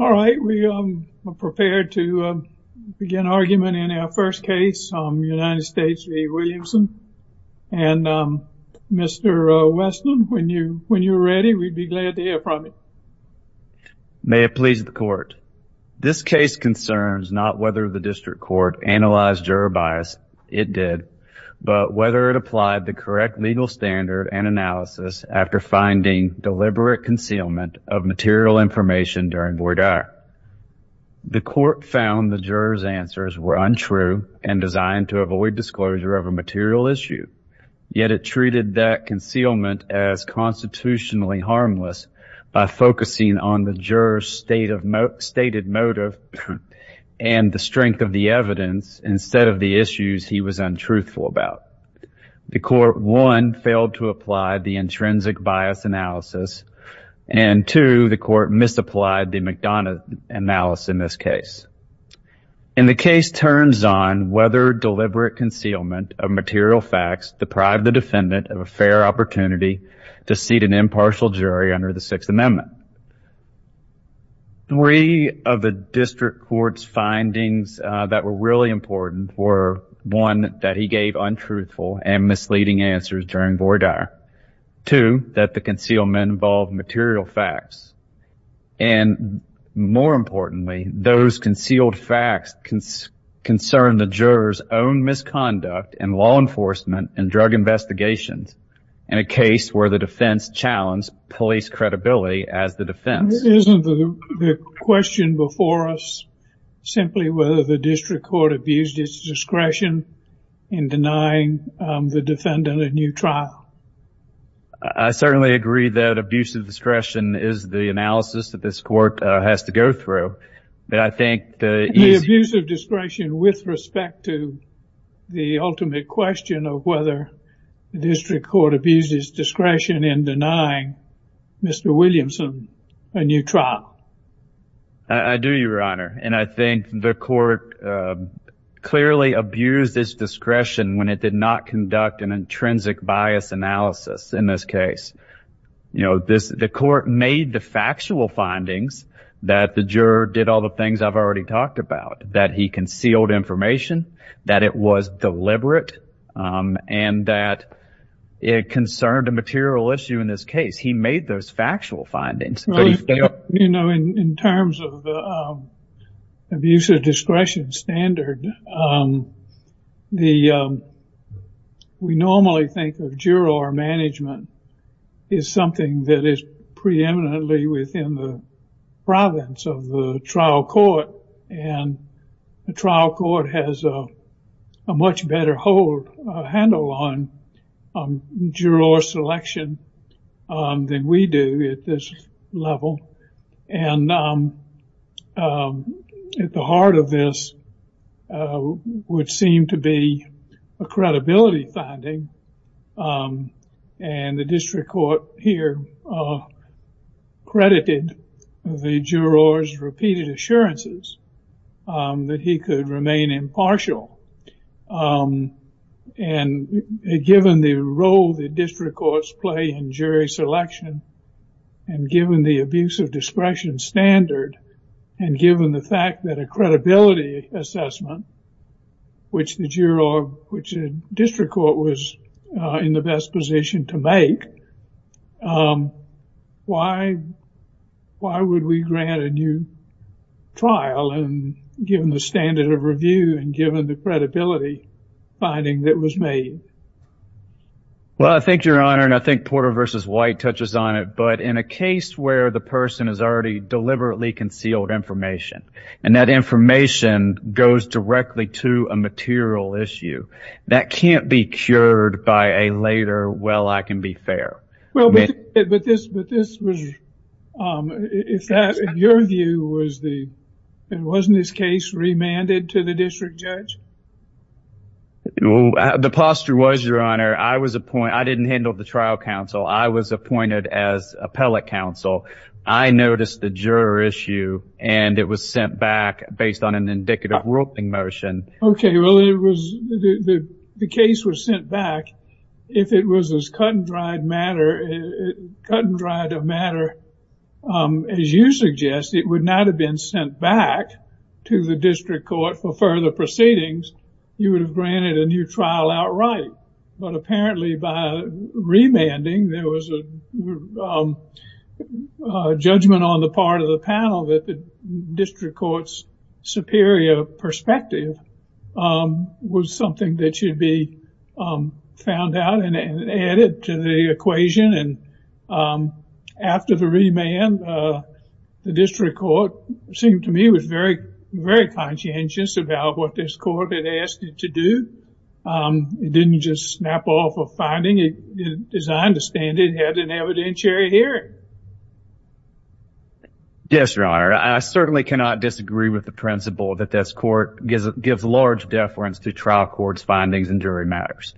All right, we are prepared to begin argument in our first case, United States v. Williamson. And Mr. Weston, when you're ready, we'd be glad to hear from you. May it please the court. This case concerns not whether the district court analyzed juror bias, it did, but whether it applied the correct legal standard and analysis after finding deliberate concealment of material information during voir dire. The court found the juror's answers were untrue and designed to avoid disclosure of a material issue. Yet it treated that concealment as constitutionally harmless by focusing on the juror's stated motive and the strength of the evidence instead of the issues he was untruthful about. The court, one, failed to apply the intrinsic bias analysis, and two, the court misapplied the McDonough analysis in this case. And the case turns on whether deliberate concealment of material facts deprived the defendant of a fair opportunity to seat an impartial jury under the Sixth Amendment. Three of the district court's findings that were really important were, one, that he gave untruthful and misleading answers during voir dire, two, that the concealment involved material facts, and more importantly, those concealed facts concerned the juror's own misconduct in law enforcement and drug investigations in a case where the defense challenged police credibility as the defense. Isn't the question before us simply whether the district court abused its discretion in denying the defendant a new trial? I certainly agree that abuse of discretion is the analysis that this court has to go through. But I think the abuse of discretion with respect to the ultimate question of whether the district court abused its discretion in denying Mr. Williamson a new trial. I do, Your Honor. And I think the court clearly abused its discretion when it did not conduct an intrinsic bias analysis in this case. You know, the court made the factual findings that the juror did all the things I've already talked about, that he concealed information, that it was deliberate, and that it concerned a material issue in this case. He made those factual findings. You know, in terms of the abuse of discretion standard, we normally think of juror management as something that is preeminently within the province of the trial court, and the trial level. And at the heart of this would seem to be a credibility finding. And the district court here credited the juror's repeated assurances that he could remain impartial. And given the role that district courts play in jury selection, and given the abuse of discretion standard, and given the fact that a credibility assessment, which the district court was in the best position to make, why would we grant a new trial, and given the standard of review, and given the credibility finding that was made? Well, I think, Your Honor, and I think Porter v. White touches on it, but in a case where the person has already deliberately concealed information, and that information goes directly to a material issue, that can't be cured by a later, well, I can be fair. Well, but this was, in your view, wasn't this case remanded to the district judge? The posture was, Your Honor, I was appointed, I didn't handle the trial counsel, I was appointed as appellate counsel. I noticed the juror issue, and it was sent back based on an indicative ruling motion. Okay, well, it was, the case was sent back, if it was as cut and dried matter, cut and dried of matter, as you suggest, it would not have been sent back to the district court for further proceedings, you would have granted a new trial outright. But apparently by remanding, there was a judgment on the part of the panel that the district court's superior perspective was something that should be found out and added to the equation, and after the remand, the district court seemed to me was very, very conscientious about what this court had asked it to do. It didn't just snap off a finding, it, as I understand it, had an evidentiary hearing. Yes, Your Honor, I certainly cannot disagree with the principle that this court gives large deference to trial court's findings and jury matters.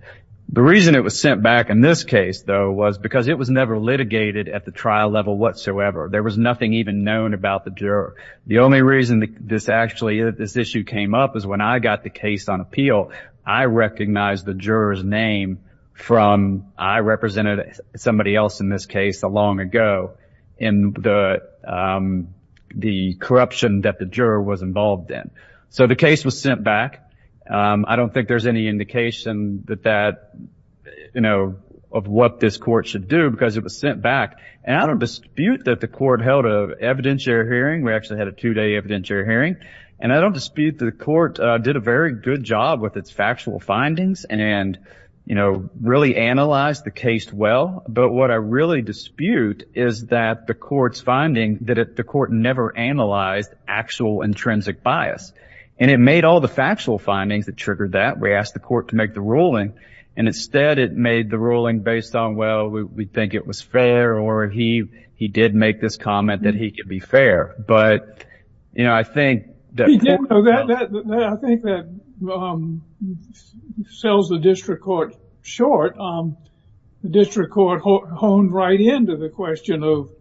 The reason it was sent back in this case, though, was because it was never litigated at the trial level whatsoever. There was nothing even known about the juror. The only reason this actually, this issue came up is when I got the case on appeal, I recognized the juror's name from, I represented somebody else in this case a long ago in the corruption that the juror was involved in. So the case was sent back. I don't think there's any indication that that, you know, of what this court should do because it was sent back, and I don't dispute that the court held an evidentiary hearing, we actually had a two-day evidentiary hearing, and I don't dispute the court did a very good job with its factual findings and, you know, really analyzed the case well, but what I really dispute is that the court's finding that the court never analyzed actual intrinsic bias, and it made all the factual findings that triggered that. We asked the court to make the ruling, and instead it made the ruling based on, well, we think it was fair, or he did make this comment that he could be fair, but, you know, I think that... I think that sells the district court short, the district court honed right into the question of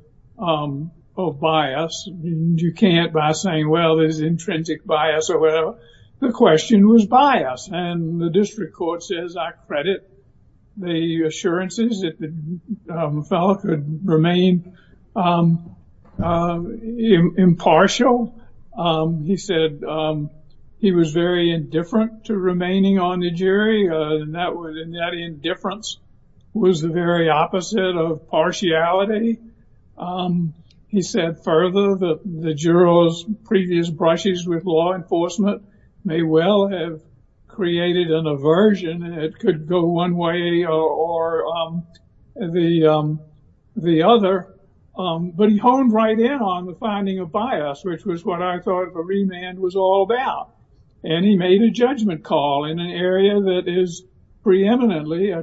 bias, and you can't, by saying, well, there's intrinsic bias, or whatever, the question was bias, and the district court says, I credit the assurances that the fellow could remain impartial. He said he was very indifferent to remaining on the jury, and that indifference was the very opposite of partiality. He said further that the juror's previous brushes with law enforcement may well have created an aversion that could go one way or the other, but he honed right in on the finding of bias, which was what I thought a remand was all about, and he made a judgment call in an area that is preeminently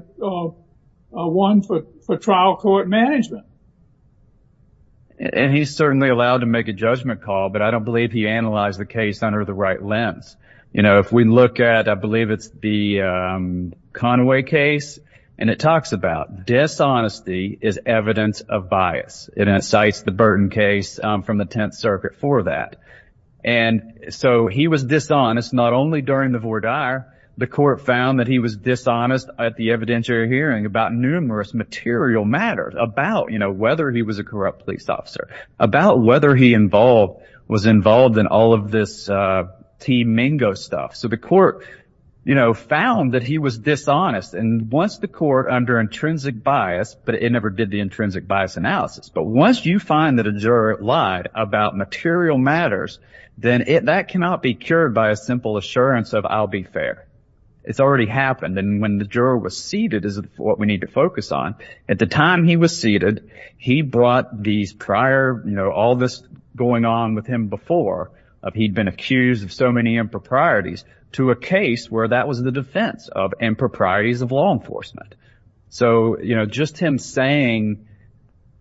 one for trial court management. And he's certainly allowed to make a judgment call, but I don't believe he analyzed the case under the right lens. You know, if we look at, I believe it's the Conway case, and it talks about dishonesty is evidence of bias, and it cites the Burton case from the Tenth Circuit for that. And so he was dishonest not only during the voir dire, the court found that he was dishonest at the evidentiary hearing about numerous material matters, about, you know, whether he was a corrupt police officer, about whether he was involved in all of this T-Mingo stuff. So the court, you know, found that he was dishonest, and once the court under intrinsic bias, but it never did the intrinsic bias analysis, but once you find that a juror lied about material matters, then that cannot be cured by a simple assurance of I'll be fair. It's already happened, and when the juror was seated is what we need to focus on. At the time he was seated, he brought these prior, you know, all this going on with him before he'd been accused of so many improprieties to a case where that was the defense of improprieties of law enforcement. So, you know, just him saying,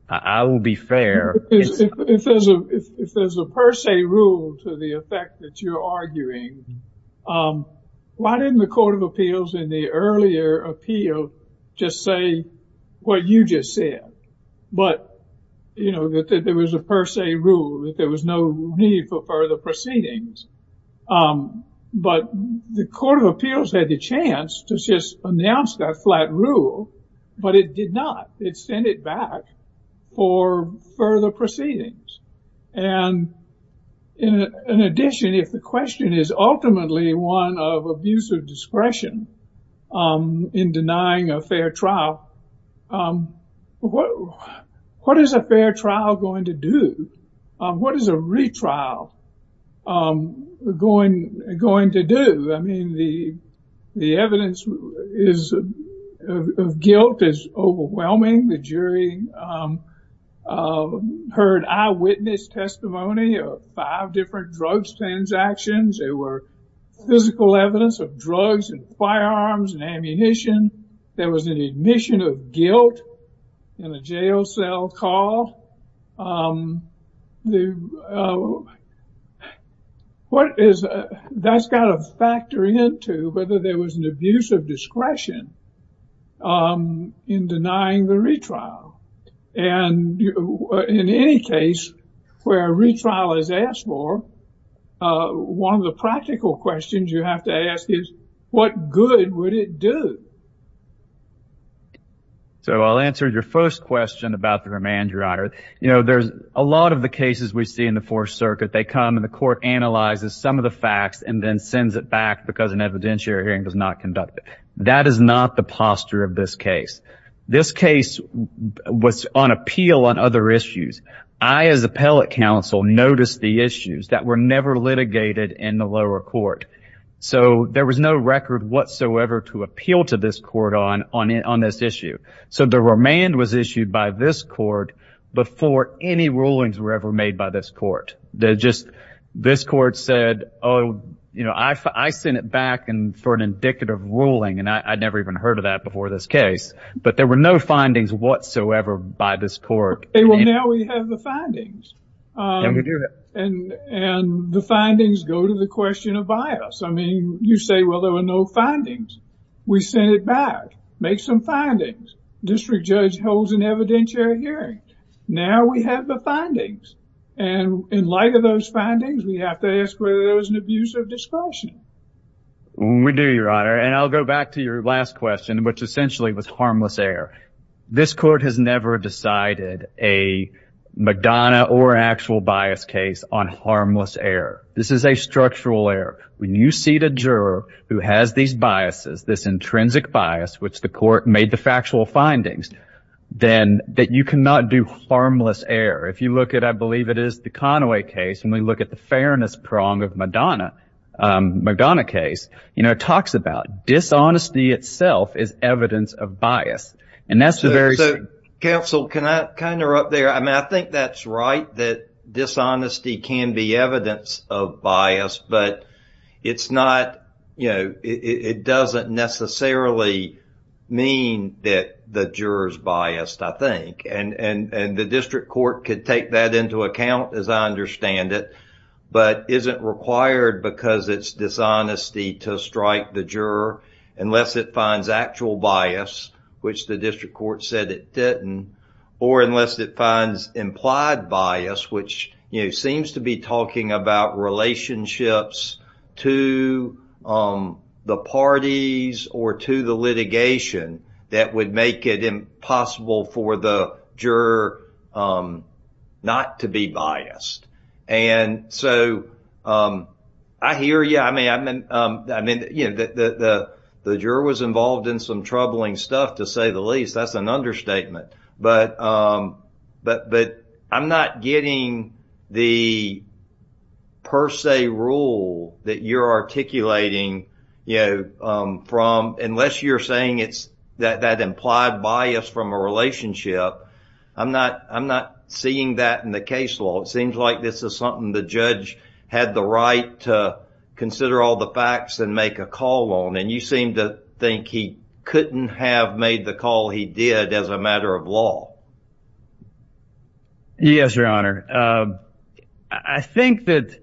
I will be fair. If there's a per se rule to the effect that you're arguing, why didn't the Court of Appeals in the earlier appeal just say what you just said, but, you know, that there was a per se rule, that there was no need for further proceedings. But the Court of Appeals had the chance to just announce that flat rule, but it did not. It sent it back for further proceedings. And in addition, if the question is ultimately one of abuse of discretion in denying a fair trial, what is a fair trial going to do? What is a retrial going to do? I mean, the evidence of guilt is overwhelming. The jury heard eyewitness testimony of five different drugs transactions. There were physical evidence of drugs and firearms and ammunition. There was an admission of guilt in a jail cell call. What is that's got to factor into whether there was an abuse of discretion in denying the retrial? And in any case where a retrial is asked for, one of the practical questions you have to ask is, what good would it do? So I'll answer your first question about the remand, Your Honor. You know, there's a lot of the cases we see in the Fourth Circuit. They come and the court analyzes some of the facts and then sends it back because an evidentiary hearing does not conduct it. That is not the posture of this case. This case was on appeal on other issues. I, as appellate counsel, noticed the issues that were never litigated in the lower court. So there was no record whatsoever to appeal to this court on this issue. So the remand was issued by this court before any rulings were ever made by this court. This court said, oh, you know, I sent it back for an indicative ruling. And I'd never even heard of that before this case. But there were no findings whatsoever by this court. Well, now we have the findings and the findings go to the question of bias. I mean, you say, well, there were no findings. We sent it back, make some findings. District Judge holds an evidentiary hearing. Now we have the findings. And in light of those findings, we have to ask whether there was an abuse of discretion. We do, Your Honor. And I'll go back to your last question, which essentially was harmless error. This court has never decided a Madonna or actual bias case on harmless error. This is a structural error. When you see the juror who has these biases, this intrinsic bias, which the court made the factual findings, then that you cannot do harmless error. If you look at, I believe it is the Conaway case, and we look at the fairness prong of Madonna, Madonna case. You know, it talks about dishonesty itself is evidence of bias. And that's the very counsel. Can I kind of up there? I mean, I think that's right, that dishonesty can be evidence of bias, but it's not, you know, it doesn't necessarily mean that the jurors biased, I think. And the district court could take that into account, as I understand it. But isn't required because it's dishonesty to strike the juror unless it finds actual bias, which the district court said it didn't. Or unless it finds implied bias, which seems to be talking about relationships to the parties or to the litigation that would make it impossible for the juror not to be biased. And so I hear you. I mean, I mean, you know, the juror was involved in some troubling stuff, to say the least. That's an understatement. But but but I'm not getting the per se rule that you're articulating, you know, from unless you're saying it's that implied bias from a relationship. I'm not I'm not seeing that in the case law. It seems like this is something the judge had the right to consider all the facts and make a call on. And you seem to think he couldn't have made the call he did as a matter of law. Yes, your honor. I think that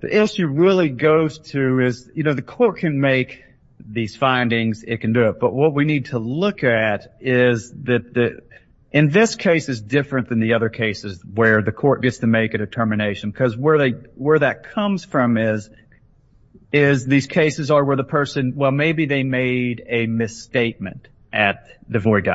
the issue really goes to is, you know, the court can make these findings, it can do it. But what we need to look at is that in this case is different than the other cases where the court gets to make a determination because where they where that comes from is is these cases are where the person. Well, maybe they made a misstatement at the void.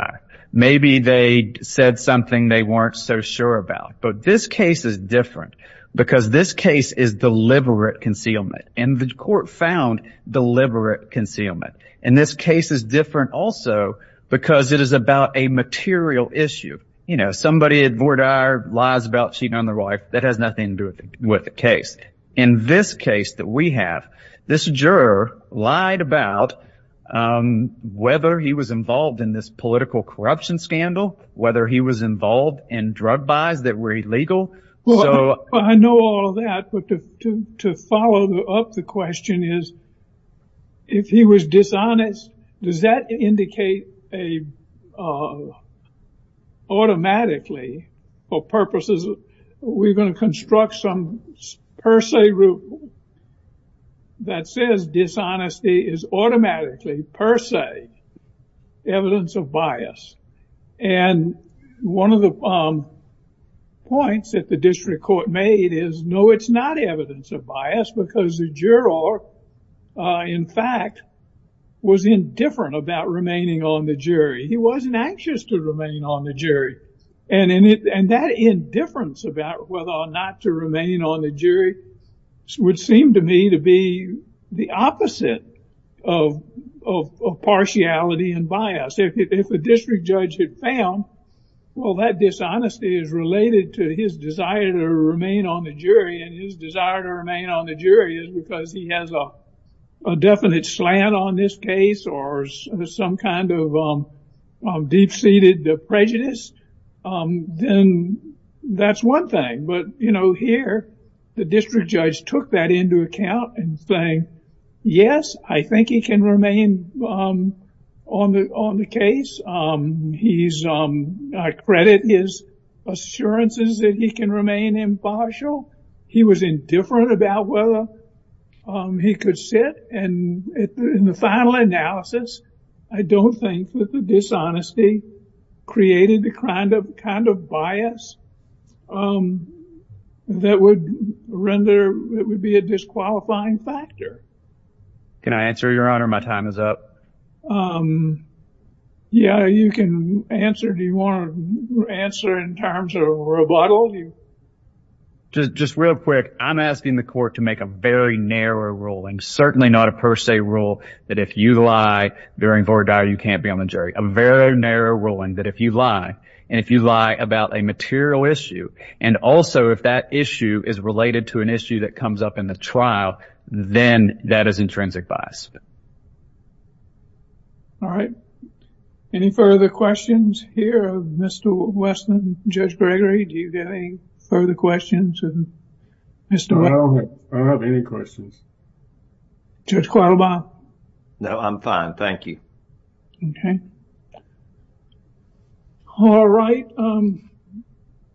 Maybe they said something they weren't so sure about. But this case is different because this case is deliberate concealment and the court found deliberate concealment. And this case is different also because it is about a material issue. You know, somebody at Vordaer lies about cheating on their wife. That has nothing to do with the case. In this case that we have, this juror lied about whether he was involved in this political corruption scandal, whether he was involved in drug buys that were illegal. Well, I know all of that. But to follow up the question is, if he was dishonest, does that indicate a automatically for purposes of we're going to construct some per se rule that says dishonesty is automatically per se evidence of bias. And one of the points that the district court made is, no, it's not evidence of bias because the juror, in fact, was indifferent about remaining on the jury. He wasn't anxious to remain on the jury. And that indifference about whether or not to remain on the jury would seem to me to be the opposite of partiality and bias. If a district judge had found, well, that dishonesty is related to his desire to remain on the jury and his desire to remain on the jury is because he has a definite slant on this case or some kind of deep seated prejudice. Then that's one thing. But, you know, here, the district judge took that into account and saying, yes, I think he can remain on the case. He's, I credit his assurances that he can remain impartial. He was indifferent about whether he could sit. And in the final analysis, I don't think that the dishonesty created the kind of kind of bias that would render it would be a disqualifying factor. Can I answer your honor? My time is up. Yeah, you can answer. Do you want to answer in terms of rebuttal? Just real quick. I'm asking the court to make a very narrow ruling. Certainly not a per se rule that if you lie, bearing for a dire, you can't be on the jury. A very narrow ruling that if you lie and if you lie about a material issue and also if that issue is related to an issue that comes up in the trial, then that is intrinsic bias. All right. Any further questions here of Mr. Westland, Judge Gregory? Do you get any further questions? I don't have any questions. Judge Quattlebaugh? No, I'm fine. Thank you. Okay. All right. Um,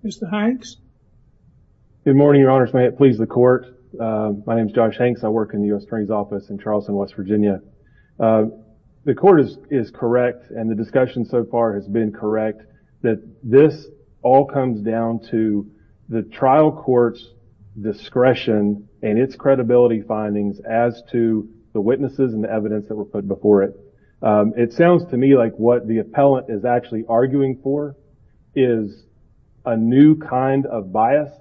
Mr. Good morning, your honors. May it please the court. Uh, my name is Josh Hanks. I work in the U.S. Attorney's office in Charleston, West Virginia. Uh, the court is, is correct. And the discussion so far has been correct that this all comes down to the trial court's discretion and its credibility findings as to the witnesses and the evidence that were put before it. Um, it sounds to me like what the appellant is actually arguing for is a new kind of bias.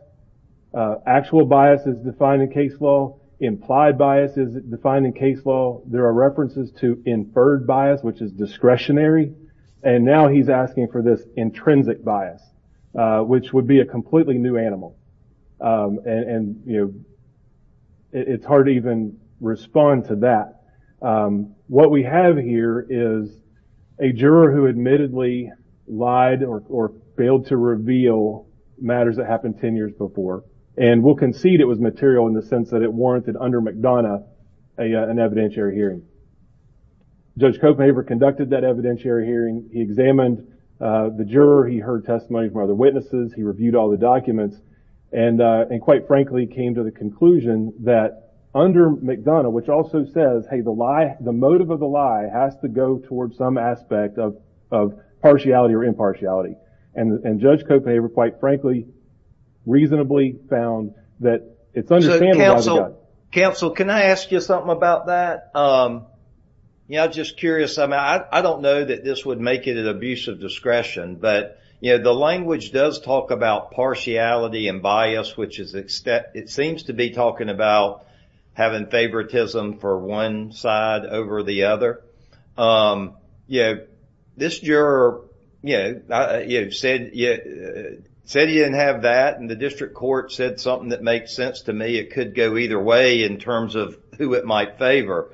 Uh, actual bias is defined in case law. Implied bias is defined in case law. There are references to inferred bias, which is discretionary. And now he's asking for this intrinsic bias, uh, which would be a completely new animal. Um, and, and, you know, it's hard to even respond to that. Um, what we have here is a juror who admittedly lied or, or failed to reveal matters that happened 10 years before. And we'll concede it was material in the sense that it warranted under McDonough, a, uh, an evidentiary hearing. Judge Kochmaver conducted that evidentiary hearing. He examined, uh, the juror. He heard testimony from other witnesses. He reviewed all the documents. And, uh, and quite frankly, came to the conclusion that under McDonough, which also says, hey, the lie, the motive of the lie has to go towards some aspect of, of partiality or impartiality. And, and judge Kochmaver, quite frankly, reasonably found that it's understandable. Counsel, can I ask you something about that? Um, yeah, just curious. I mean, I, I don't know that this would make it an abuse of discretion, but you know, the language does talk about partiality and bias, which is extent, it seems to be talking about having favoritism for one side over the other. Um, yeah, this juror, you know, you said, yeah, said he didn't have that. And the district court said something that makes sense to me. It could go either way in terms of who it might favor.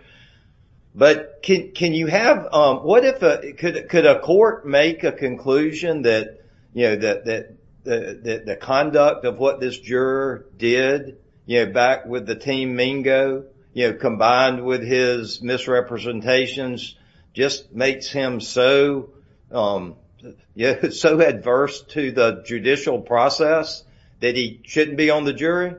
But can, can you have, um, what if, uh, could, could a court make a conclusion that, you know, that, that, that, that the conduct of what this juror did, you know, back with the team Mingo, you know, combined with his misrepresentations, just makes him so, um, yeah, so adverse to the judicial process that he shouldn't be on the jury?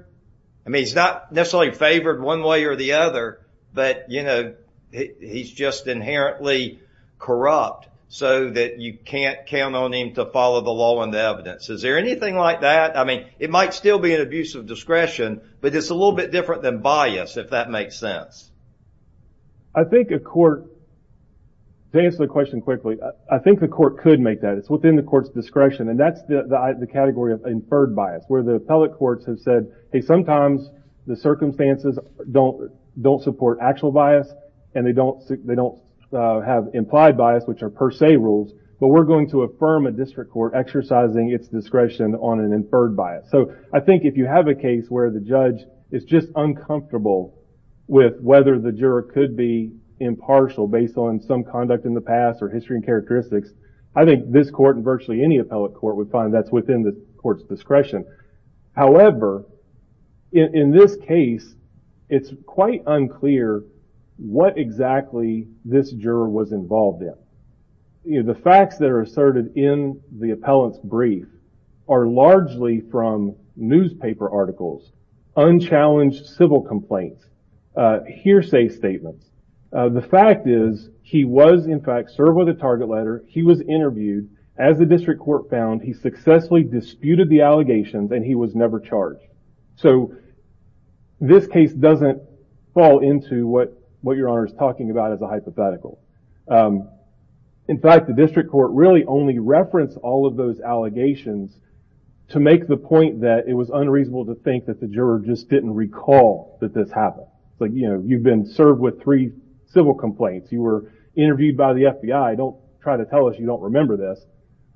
I mean, he's not necessarily favored one way or the other, but, you know, he's just inherently corrupt so that you can't count on him to follow the law and the evidence. Is there anything like that? I mean, it might still be an abuse of discretion, but it's a little bit different than bias, if that makes sense. I think a court, to answer the question quickly, I think the court could make that. It's within the court's discretion. And that's the category of inferred bias, where the appellate courts have said, hey, sometimes the circumstances don't, don't support actual bias. And they don't, they don't have implied bias, which are per se rules. But we're going to affirm a district court exercising its discretion on an inferred bias. So I think if you have a case where the judge is just uncomfortable with whether the juror could be impartial based on some conduct in the past or history and characteristics, I think this court and virtually any appellate court would find that's within the court's discretion. However, in this case, it's quite unclear what exactly this juror was involved in. The facts that are asserted in the appellant's brief are largely from newspaper articles, unchallenged civil complaints, hearsay statements. The fact is he was, in fact, served with a target letter. He was interviewed. As the district court found, he successfully disputed the allegations and he was never charged. So this case doesn't fall into what your honor is talking about as a hypothetical. In fact, the district court really only referenced all of those allegations to make the point that it was unreasonable to think that the juror just didn't recall that this happened. But, you know, you've been served with three civil complaints. You were interviewed by the FBI. Don't try to tell us you don't remember this.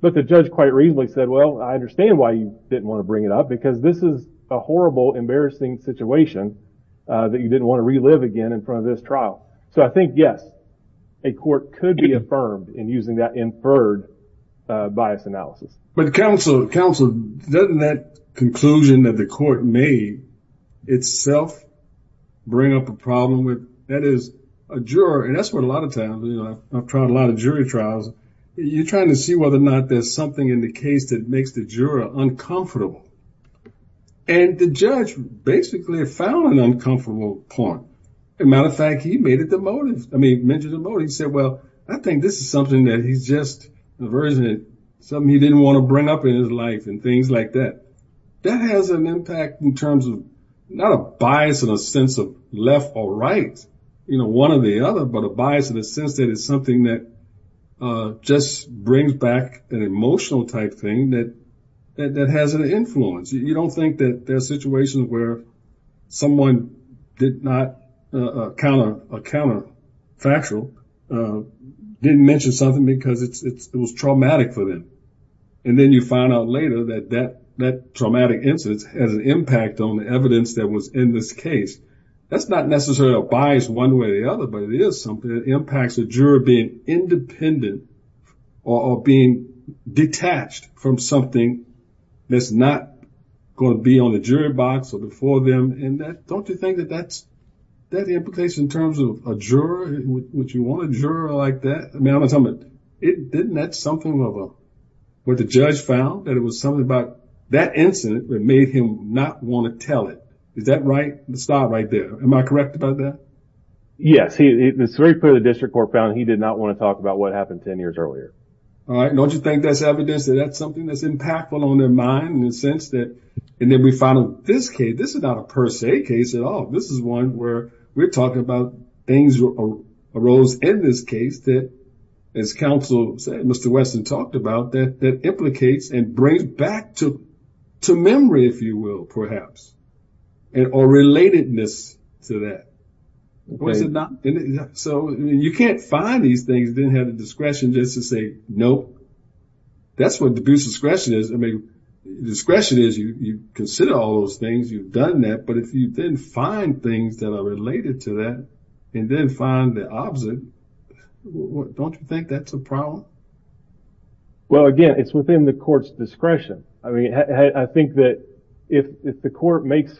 But the judge quite reasonably said, well, I understand why you didn't want to bring it up, because this is a horrible, embarrassing situation that you didn't want to relive again in front of this trial. So I think, yes, a court could be affirmed in using that inferred bias analysis. But counsel, counsel, doesn't that conclusion that the court made itself bring up a problem with that is a juror. And that's what a lot of times I've tried a lot of jury trials. You're trying to see whether or not there's something in the case that makes the juror uncomfortable. And the judge basically found an uncomfortable point. As a matter of fact, he made it the motive. I mean, he mentioned the motive, he said, well, I think this is something that he's just aversion, something he didn't want to bring up in his life and things like that. That has an impact in terms of not a bias in a sense of left or right, you know, one or the other, but a bias in a sense that it's something that just brings back an emotional type thing that that has an influence. You don't think that there are situations where someone did not count a counterfactual, didn't mention something because it was traumatic for them. And then you find out later that that traumatic incident has an impact on the evidence that was in this case. That's not necessarily a bias one way or the other, but it is something that impacts the juror being independent or being detached from something that's not going to be on the jury box or before them. And don't you think that that's that the implication in terms of a juror, which you want a juror like that? I mean, I'm assuming it didn't that something of a what the judge found that it was something about that incident that made him not want to tell it. Is that right? It's not right there. Am I correct about that? Yes. It's very clear the district court found he did not want to talk about what happened 10 years earlier. All right. Don't you think that's evidence that that's something that's impactful on their mind in the sense that and then we found this case, this is not a per se case at all. This is one where we're talking about things arose in this case that, as counsel said, Mr. Wesson talked about, that implicates and brings back to memory, if you will, perhaps, or relatedness to that. Was it not? So you can't find these things, then have the discretion just to say, no, that's what the discretion is. I mean, discretion is you consider all those things. You've done that. But if you didn't find things that are related to that and then find the opposite, don't you think that's a problem? Well, again, it's within the court's discretion. I mean, I think that if the court makes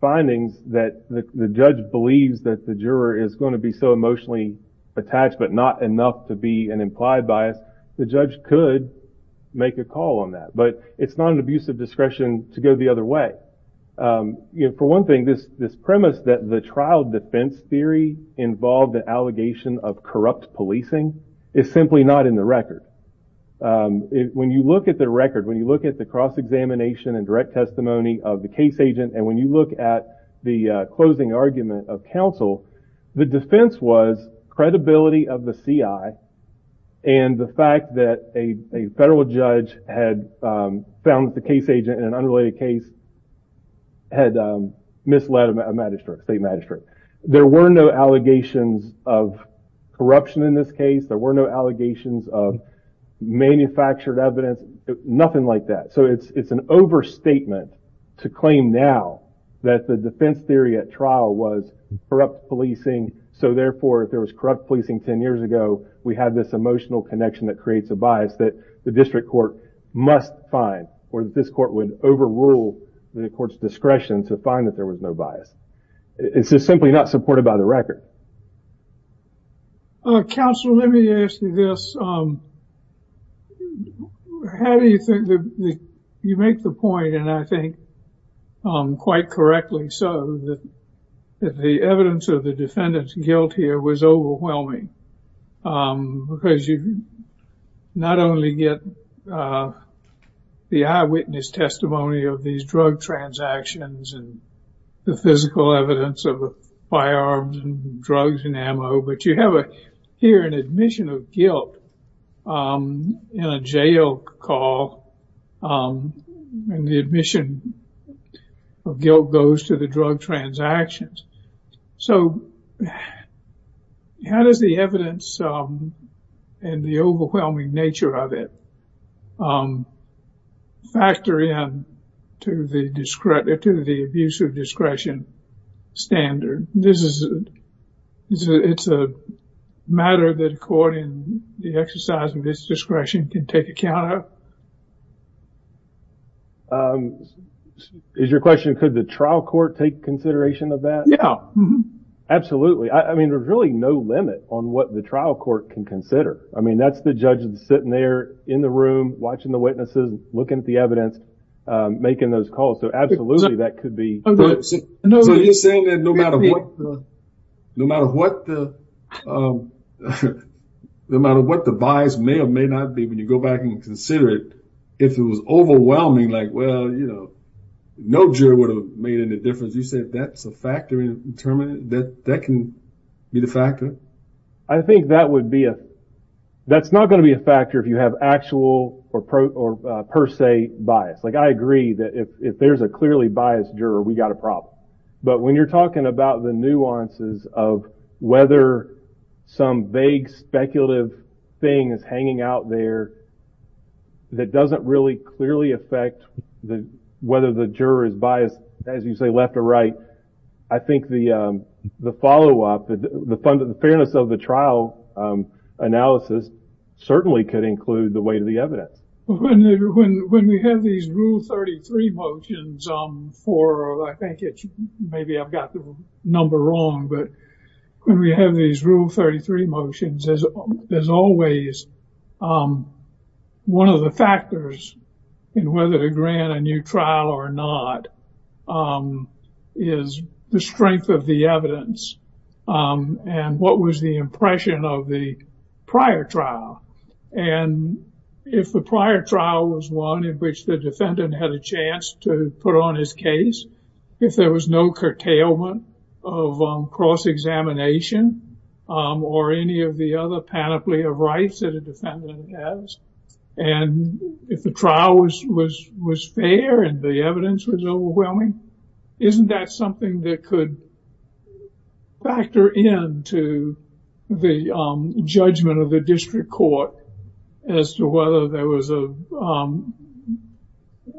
findings that the judge believes that the juror is going to be so emotionally attached, but not enough to be an implied bias, the judge could make a call on that. But it's not an abuse of discretion to go the other way. For one thing, this premise that the trial defense theory involved the allegation of corrupt policing is simply not in the record. When you look at the record, when you look at the cross-examination and direct testimony of the case agent, and when you look at the closing argument of counsel, the defense was credibility of the CI and the fact that a federal judge had found that the case agent in an unrelated case had misled a magistrate, state magistrate. There were no allegations of corruption in this case. There were no allegations of manufactured evidence, nothing like that. So it's an overstatement to claim now that the defense theory at trial was corrupt policing. So therefore, if there was corrupt policing 10 years ago, we have this emotional connection that creates a bias that the district court must find or that this court would overrule the court's discretion to find that there was no bias. It's just simply not supported by the record. Counsel, let me ask you this. How do you think that you make the point, and I think quite correctly so, that the evidence of the defendant's guilt here was overwhelming? Because you not only get the eyewitness testimony of these drug transactions and the physical evidence of firearms and drugs and ammo, but you have here an admission of guilt in a jail call, and the admission of guilt goes to the drug transactions. So how does the evidence and the overwhelming nature of it factor in to the abuse of discretion standard? This is a matter that according to the exercise of this discretion can take account of? Is your question, could the trial court take consideration of that? Yeah, absolutely. I mean, there's really no limit on what the trial court can consider. I mean, that's the judge sitting there in the room, watching the witnesses, looking at the evidence, making those calls. So absolutely, that could be. So you're saying that no matter what the bias may or may not be, when you go back and consider it, if it was overwhelming, like, well, you know, no jury would have made any difference. You said that's a factor in determining that that can be the factor? I think that would be a, that's not going to be a factor if you have actual or per se bias. Like, I agree that if there's a clearly biased juror, we got a problem. But when you're talking about the nuances of whether some vague speculative thing is hanging out there that doesn't really clearly affect whether the juror is biased, as you say, left or right. I think the the follow up, the fairness of the trial analysis certainly could include the weight of the evidence. When we have these Rule 33 motions for, I think it's maybe I've got the number wrong, but when we have these Rule 33 motions, there's always one of the factors in whether to grant a new trial or not is the strength of the evidence. And what was the impression of the prior trial? And if the prior trial was one in which the defendant had a chance to put on his case, if there was no curtailment of cross-examination or any of the other panoply of rights that a defendant has, and if the trial was fair and the evidence was overwhelming, isn't that something that could factor in to the judgment of the district court as to whether there was a,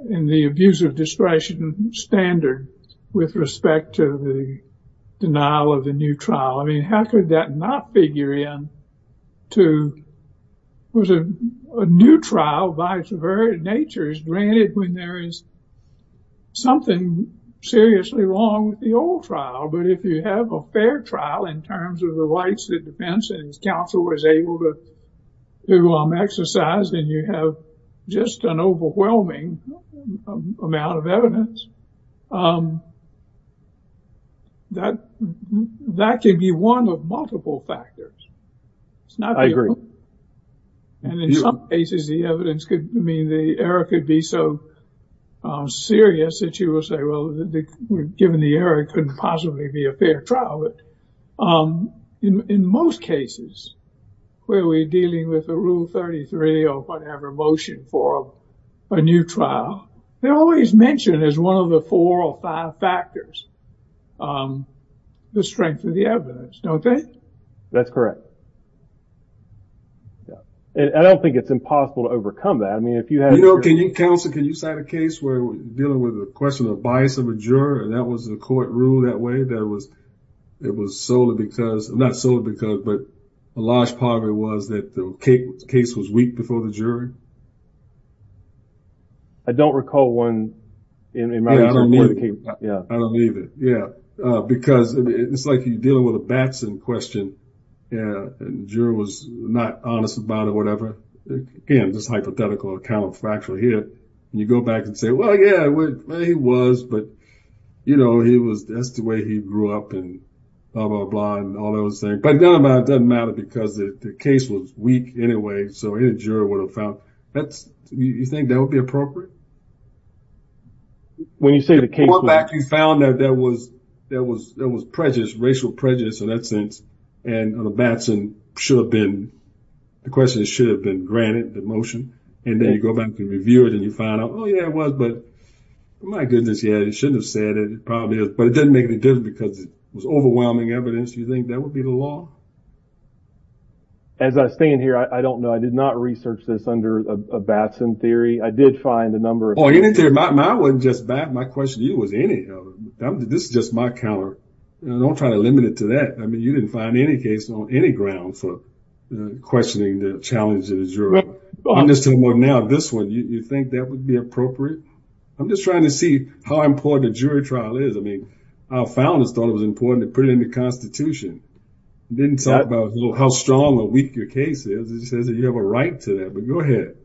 in the abuse of discretion standard with respect to the denial of the new trial? I mean, how could that not figure in to, was a new trial, by its very nature, is granted when there is something seriously wrong with the old trial. But if you have a fair trial in terms of the rights the defense counsel was able to exercise, then you have just an overwhelming amount of evidence. That could be one of multiple factors. I agree. And in some cases, the evidence could mean the error could be so serious that you will say, well, given the error, it couldn't possibly be a fair trial. But in most cases, where we're dealing with a Rule 33 or whatever motion for a new trial, they always mention as one of the four or five factors, the strength of the evidence, don't they? That's correct. And I don't think it's impossible to overcome that. I mean, if you had a- I mean, counsel, can you cite a case where we're dealing with a question of bias of a juror, and that was the court rule that way, that it was solely because, not solely because, but a large part of it was that the case was weak before the jury? I don't recall one in my- Yeah, I don't either. Yeah. I don't either. Yeah. Because it's like you're dealing with a Batson question, and the juror was not honest about it or whatever. Again, just hypothetical or counterfactual here. You go back and say, well, yeah, he was, but that's the way he grew up and blah, blah, blah, and all those things. But it doesn't matter because the case was weak anyway, so any juror would have found- you think that would be appropriate? When you say the case was- When you found that there was prejudice, racial prejudice in that sense, and the Batson should have been- the question should have been granted the motion, and then you go back and review it, and you find out, oh, yeah, it was, but my goodness, yeah, he shouldn't have said it. It probably is. But it doesn't make any difference because it was overwhelming evidence. Do you think that would be the law? As I stand here, I don't know. I did not research this under a Batson theory. I did find a number of- My question to you was any of it. This is just my counter. Don't try to limit it to that. I mean, you didn't find any case on any ground for questioning the challenge of the juror. I'm just talking about now this one. Do you think that would be appropriate? I'm just trying to see how important a jury trial is. I mean, our founders thought it was important to put it in the Constitution. It didn't talk about how strong or weak your case is. It says that you have a right to that, but go ahead.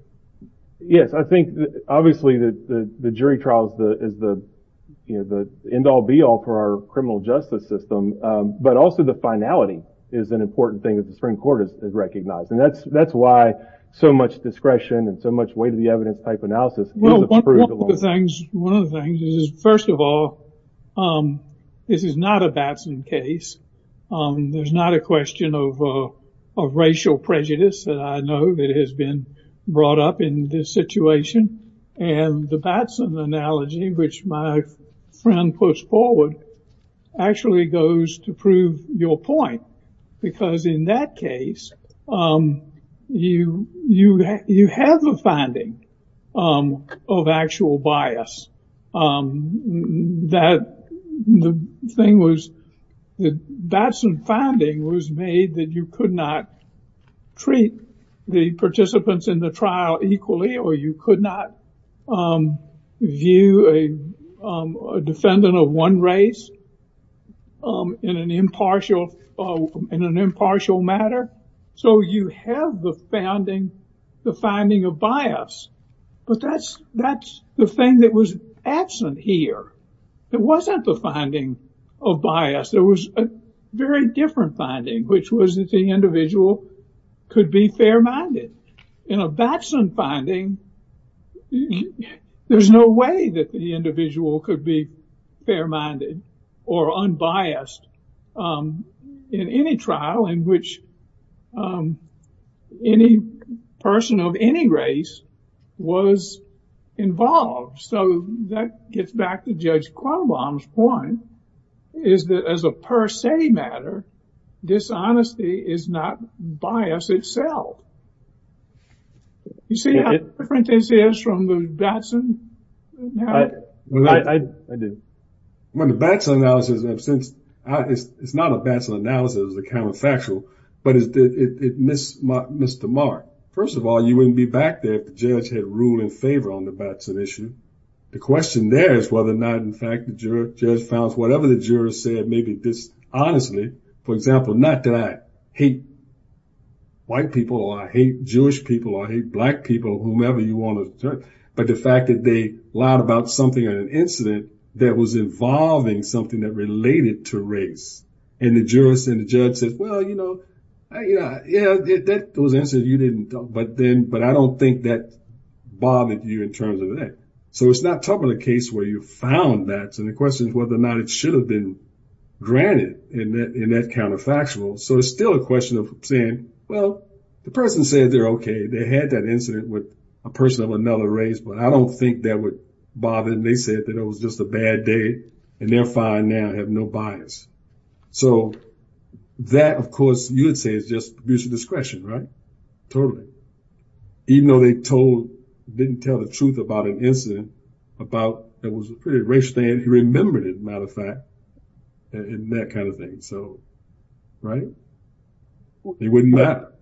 Yes, I think, obviously, the jury trial is the end-all, be-all for our criminal justice system, but also the finality is an important thing that the Supreme Court has recognized, and that's why so much discretion and so much weight of the evidence type analysis- Well, one of the things is, first of all, this is not a Batson case. There's not a question of racial prejudice that I know that has been brought up in this situation, and the Batson analogy, which my friend puts forward, actually goes to prove your point, because in that case, you have a finding of actual bias. The thing was, the Batson finding was made that you could not treat the participants in the trial equally, or you could not view a defendant of one race in an impartial matter, so you have the finding of bias. But that's the thing that was absent here. It wasn't the finding of bias. There was a very different finding, which was that the individual could be fair-minded. In a Batson finding, there's no way that the individual could be fair-minded or unbiased in any trial in which any person of any race was involved. So that gets back to Judge Quoban's point, is that as a per se matter, dishonesty is not bias itself. You see how different this is from the Batson? I do. When the Batson analysis is absent, it's not a Batson analysis. It's a counterfactual, but it missed the mark. First of all, you wouldn't be back there if the judge had ruled in favor on the Batson issue. The question there is whether or not, in fact, the judge found whatever the juror said maybe dishonestly. For example, not that I hate white people or I hate Jewish people or I hate black people, but the fact that they lied about something in an incident that was involving something that related to race, and the jurist and the judge said, well, you know, yeah, that was an incident you didn't talk about, but I don't think that bothered you in terms of that. So it's not top of the case where you found that, so the question is whether or not it should have been granted in that counterfactual. So it's still a question of saying, well, the person said they're okay. They had that incident with a person of another race, but I don't think that would bother them. They said that it was just a bad day, and they're fine now, have no bias. So that, of course, you would say is just abuse of discretion, right? Totally. Even though they didn't tell the truth about an incident that was a pretty racial thing, and he remembered it, as a matter of fact, and that kind of thing, so, right? It wouldn't matter.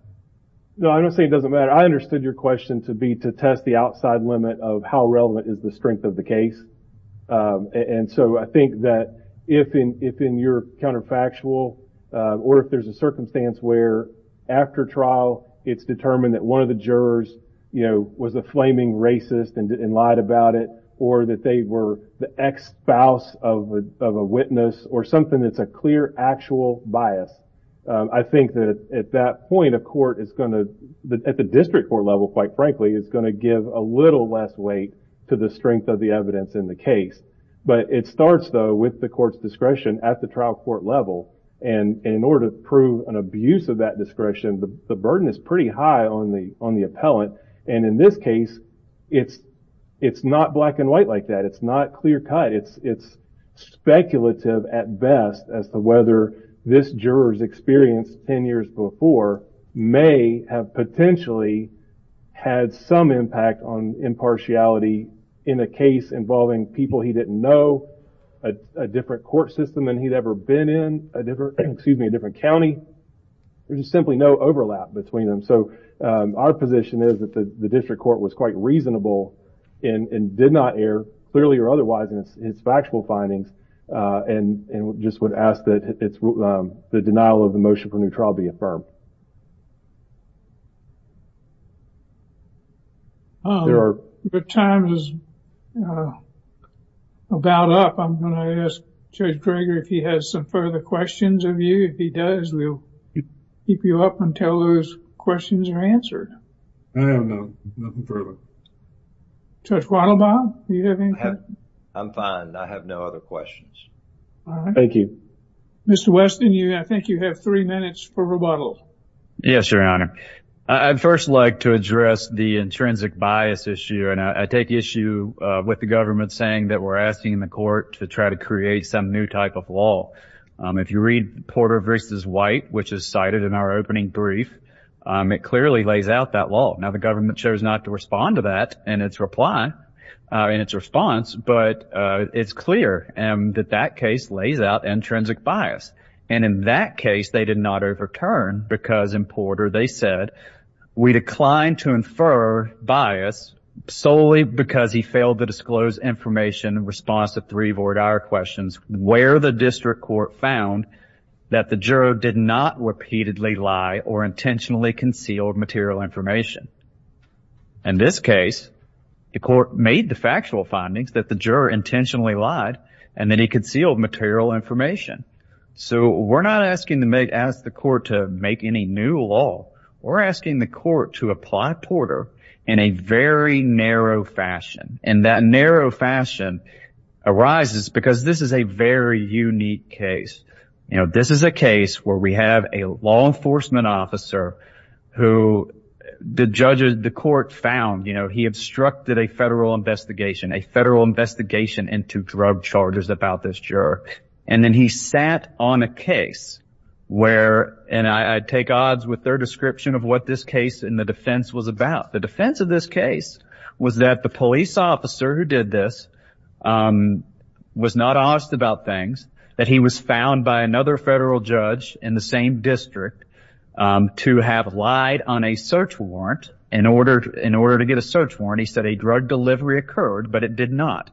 No, I don't say it doesn't matter. I understood your question to be to test the outside limit of how relevant is the strength of the case, and so I think that if in your counterfactual, or if there's a circumstance where after trial it's determined that one of the jurors, you know, was a flaming racist and lied about it, or that they were the ex-spouse of a witness, or something that's a clear, actual bias, I think that at that point a court is going to, at the district court level, quite frankly, is going to give a little less weight to the strength of the evidence in the case. But it starts, though, with the court's discretion at the trial court level, and in order to prove an abuse of that discretion, the burden is pretty high on the appellant, and in this case, it's not black and white like that. It's not clear-cut. It's speculative at best as to whether this juror's experience ten years before may have potentially had some impact on impartiality in a case involving people he didn't know, a different court system than he'd ever been in, a different, excuse me, a different county. There's simply no overlap between them. And so our position is that the district court was quite reasonable and did not err, clearly or otherwise, in its factual findings, and just would ask that the denial of the motion for new trial be affirmed. Your time is about up. I'm going to ask Judge Greger if he has some further questions of you. If he does, we'll keep you up until those questions are answered. I have none. Nothing further. Judge Wattlebaum, do you have anything? I'm fine. I have no other questions. Thank you. Mr. Weston, I think you have three minutes for rebuttal. Yes, Your Honor. I'd first like to address the intrinsic bias issue, and I take issue with the government saying that we're asking the court to try to create some new type of law. If you read Porter v. White, which is cited in our opening brief, it clearly lays out that law. Now, the government chose not to respond to that in its reply, in its response, but it's clear that that case lays out intrinsic bias. And in that case, they did not overturn because in Porter they said, we declined to infer bias solely because he failed to disclose information in response to three of our dire questions, where the district court found that the juror did not repeatedly lie or intentionally conceal material information. In this case, the court made the factual findings that the juror intentionally lied and that he concealed material information. So we're not asking the court to make any new law. We're asking the court to apply Porter in a very narrow fashion, and that narrow fashion arises because this is a very unique case. You know, this is a case where we have a law enforcement officer who the court found, you know, he obstructed a federal investigation, a federal investigation into drug charges about this juror, and then he sat on a case where, and I take odds with their description of what this case in the defense was about. The defense of this case was that the police officer who did this was not honest about things, that he was found by another federal judge in the same district to have lied on a search warrant. In order to get a search warrant, he said a drug delivery occurred, but it did not.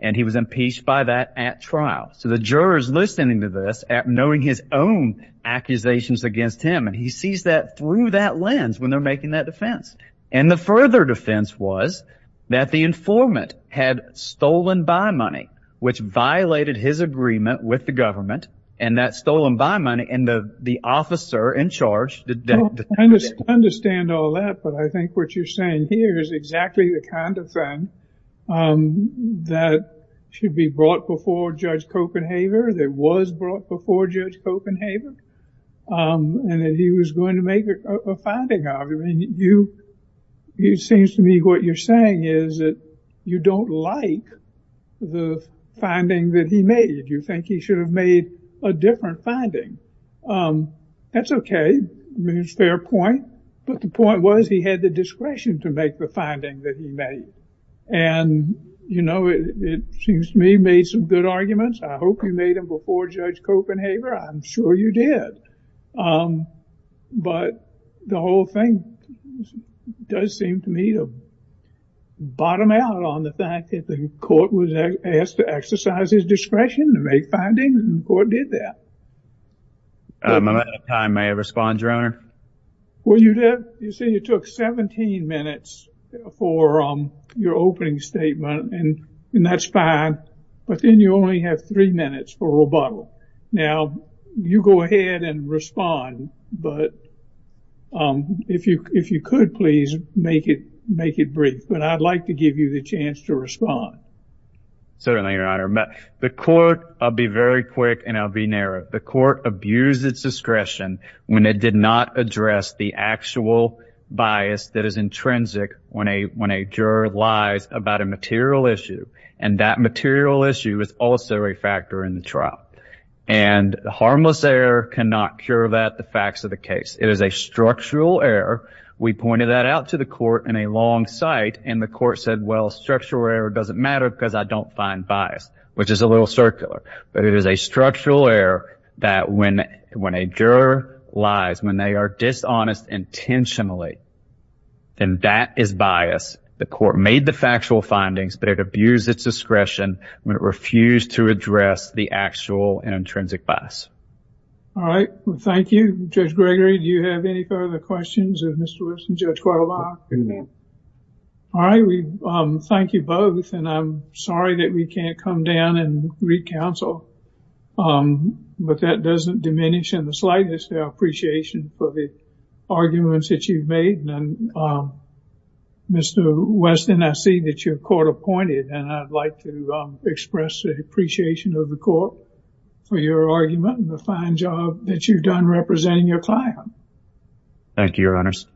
And he was impeached by that at trial. So the juror is listening to this, knowing his own accusations against him, and he sees that through that lens when they're making that defense. And the further defense was that the informant had stolen buy money, which violated his agreement with the government, and that stolen buy money and the officer in charge did that. I understand all that, but I think what you're saying here is exactly the kind of thing that should be brought before Judge Copenhaver, that was brought before Judge Copenhaver, and that he was going to make a finding argument. It seems to me what you're saying is that you don't like the finding that he made. You think he should have made a different finding. That's okay. It's a fair point. But the point was he had the discretion to make the finding that he made. And, you know, it seems to me he made some good arguments. I hope you made them before Judge Copenhaver. I'm sure you did. But the whole thing does seem to me to bottom out on the fact that the court was asked to exercise his discretion to make findings, and the court did that. I'm out of time. May I respond, Your Honor? Well, you did. You see, it took 17 minutes for your opening statement, and that's fine. But then you only have three minutes for rebuttal. Now, you go ahead and respond, but if you could, please, make it brief. But I'd like to give you the chance to respond. Certainly, Your Honor. The court, I'll be very quick and I'll be narrow, the court abused its discretion when it did not address the actual bias that is intrinsic when a juror lies about a material issue, and that material issue is also a factor in the trial. And harmless error cannot cure that, the facts of the case. It is a structural error. We pointed that out to the court in a long sight, and the court said, well, structural error doesn't matter because I don't find bias, which is a little circular. But it is a structural error that when a juror lies, when they are dishonest intentionally, then that is bias. The court made the factual findings, but it abused its discretion when it refused to address the actual and intrinsic bias. All right. Well, thank you. Judge Gregory, do you have any further questions of Mr. Wilson? Judge Cordova? No. All right. We thank you both, and I'm sorry that we can't come down and re-counsel. But that doesn't diminish in the slightest our appreciation for the arguments that you've made. And, Mr. Weston, I see that you're court appointed, and I'd like to express the appreciation of the court for your argument and the fine job that you've done representing your client. Thank you, Your Honors.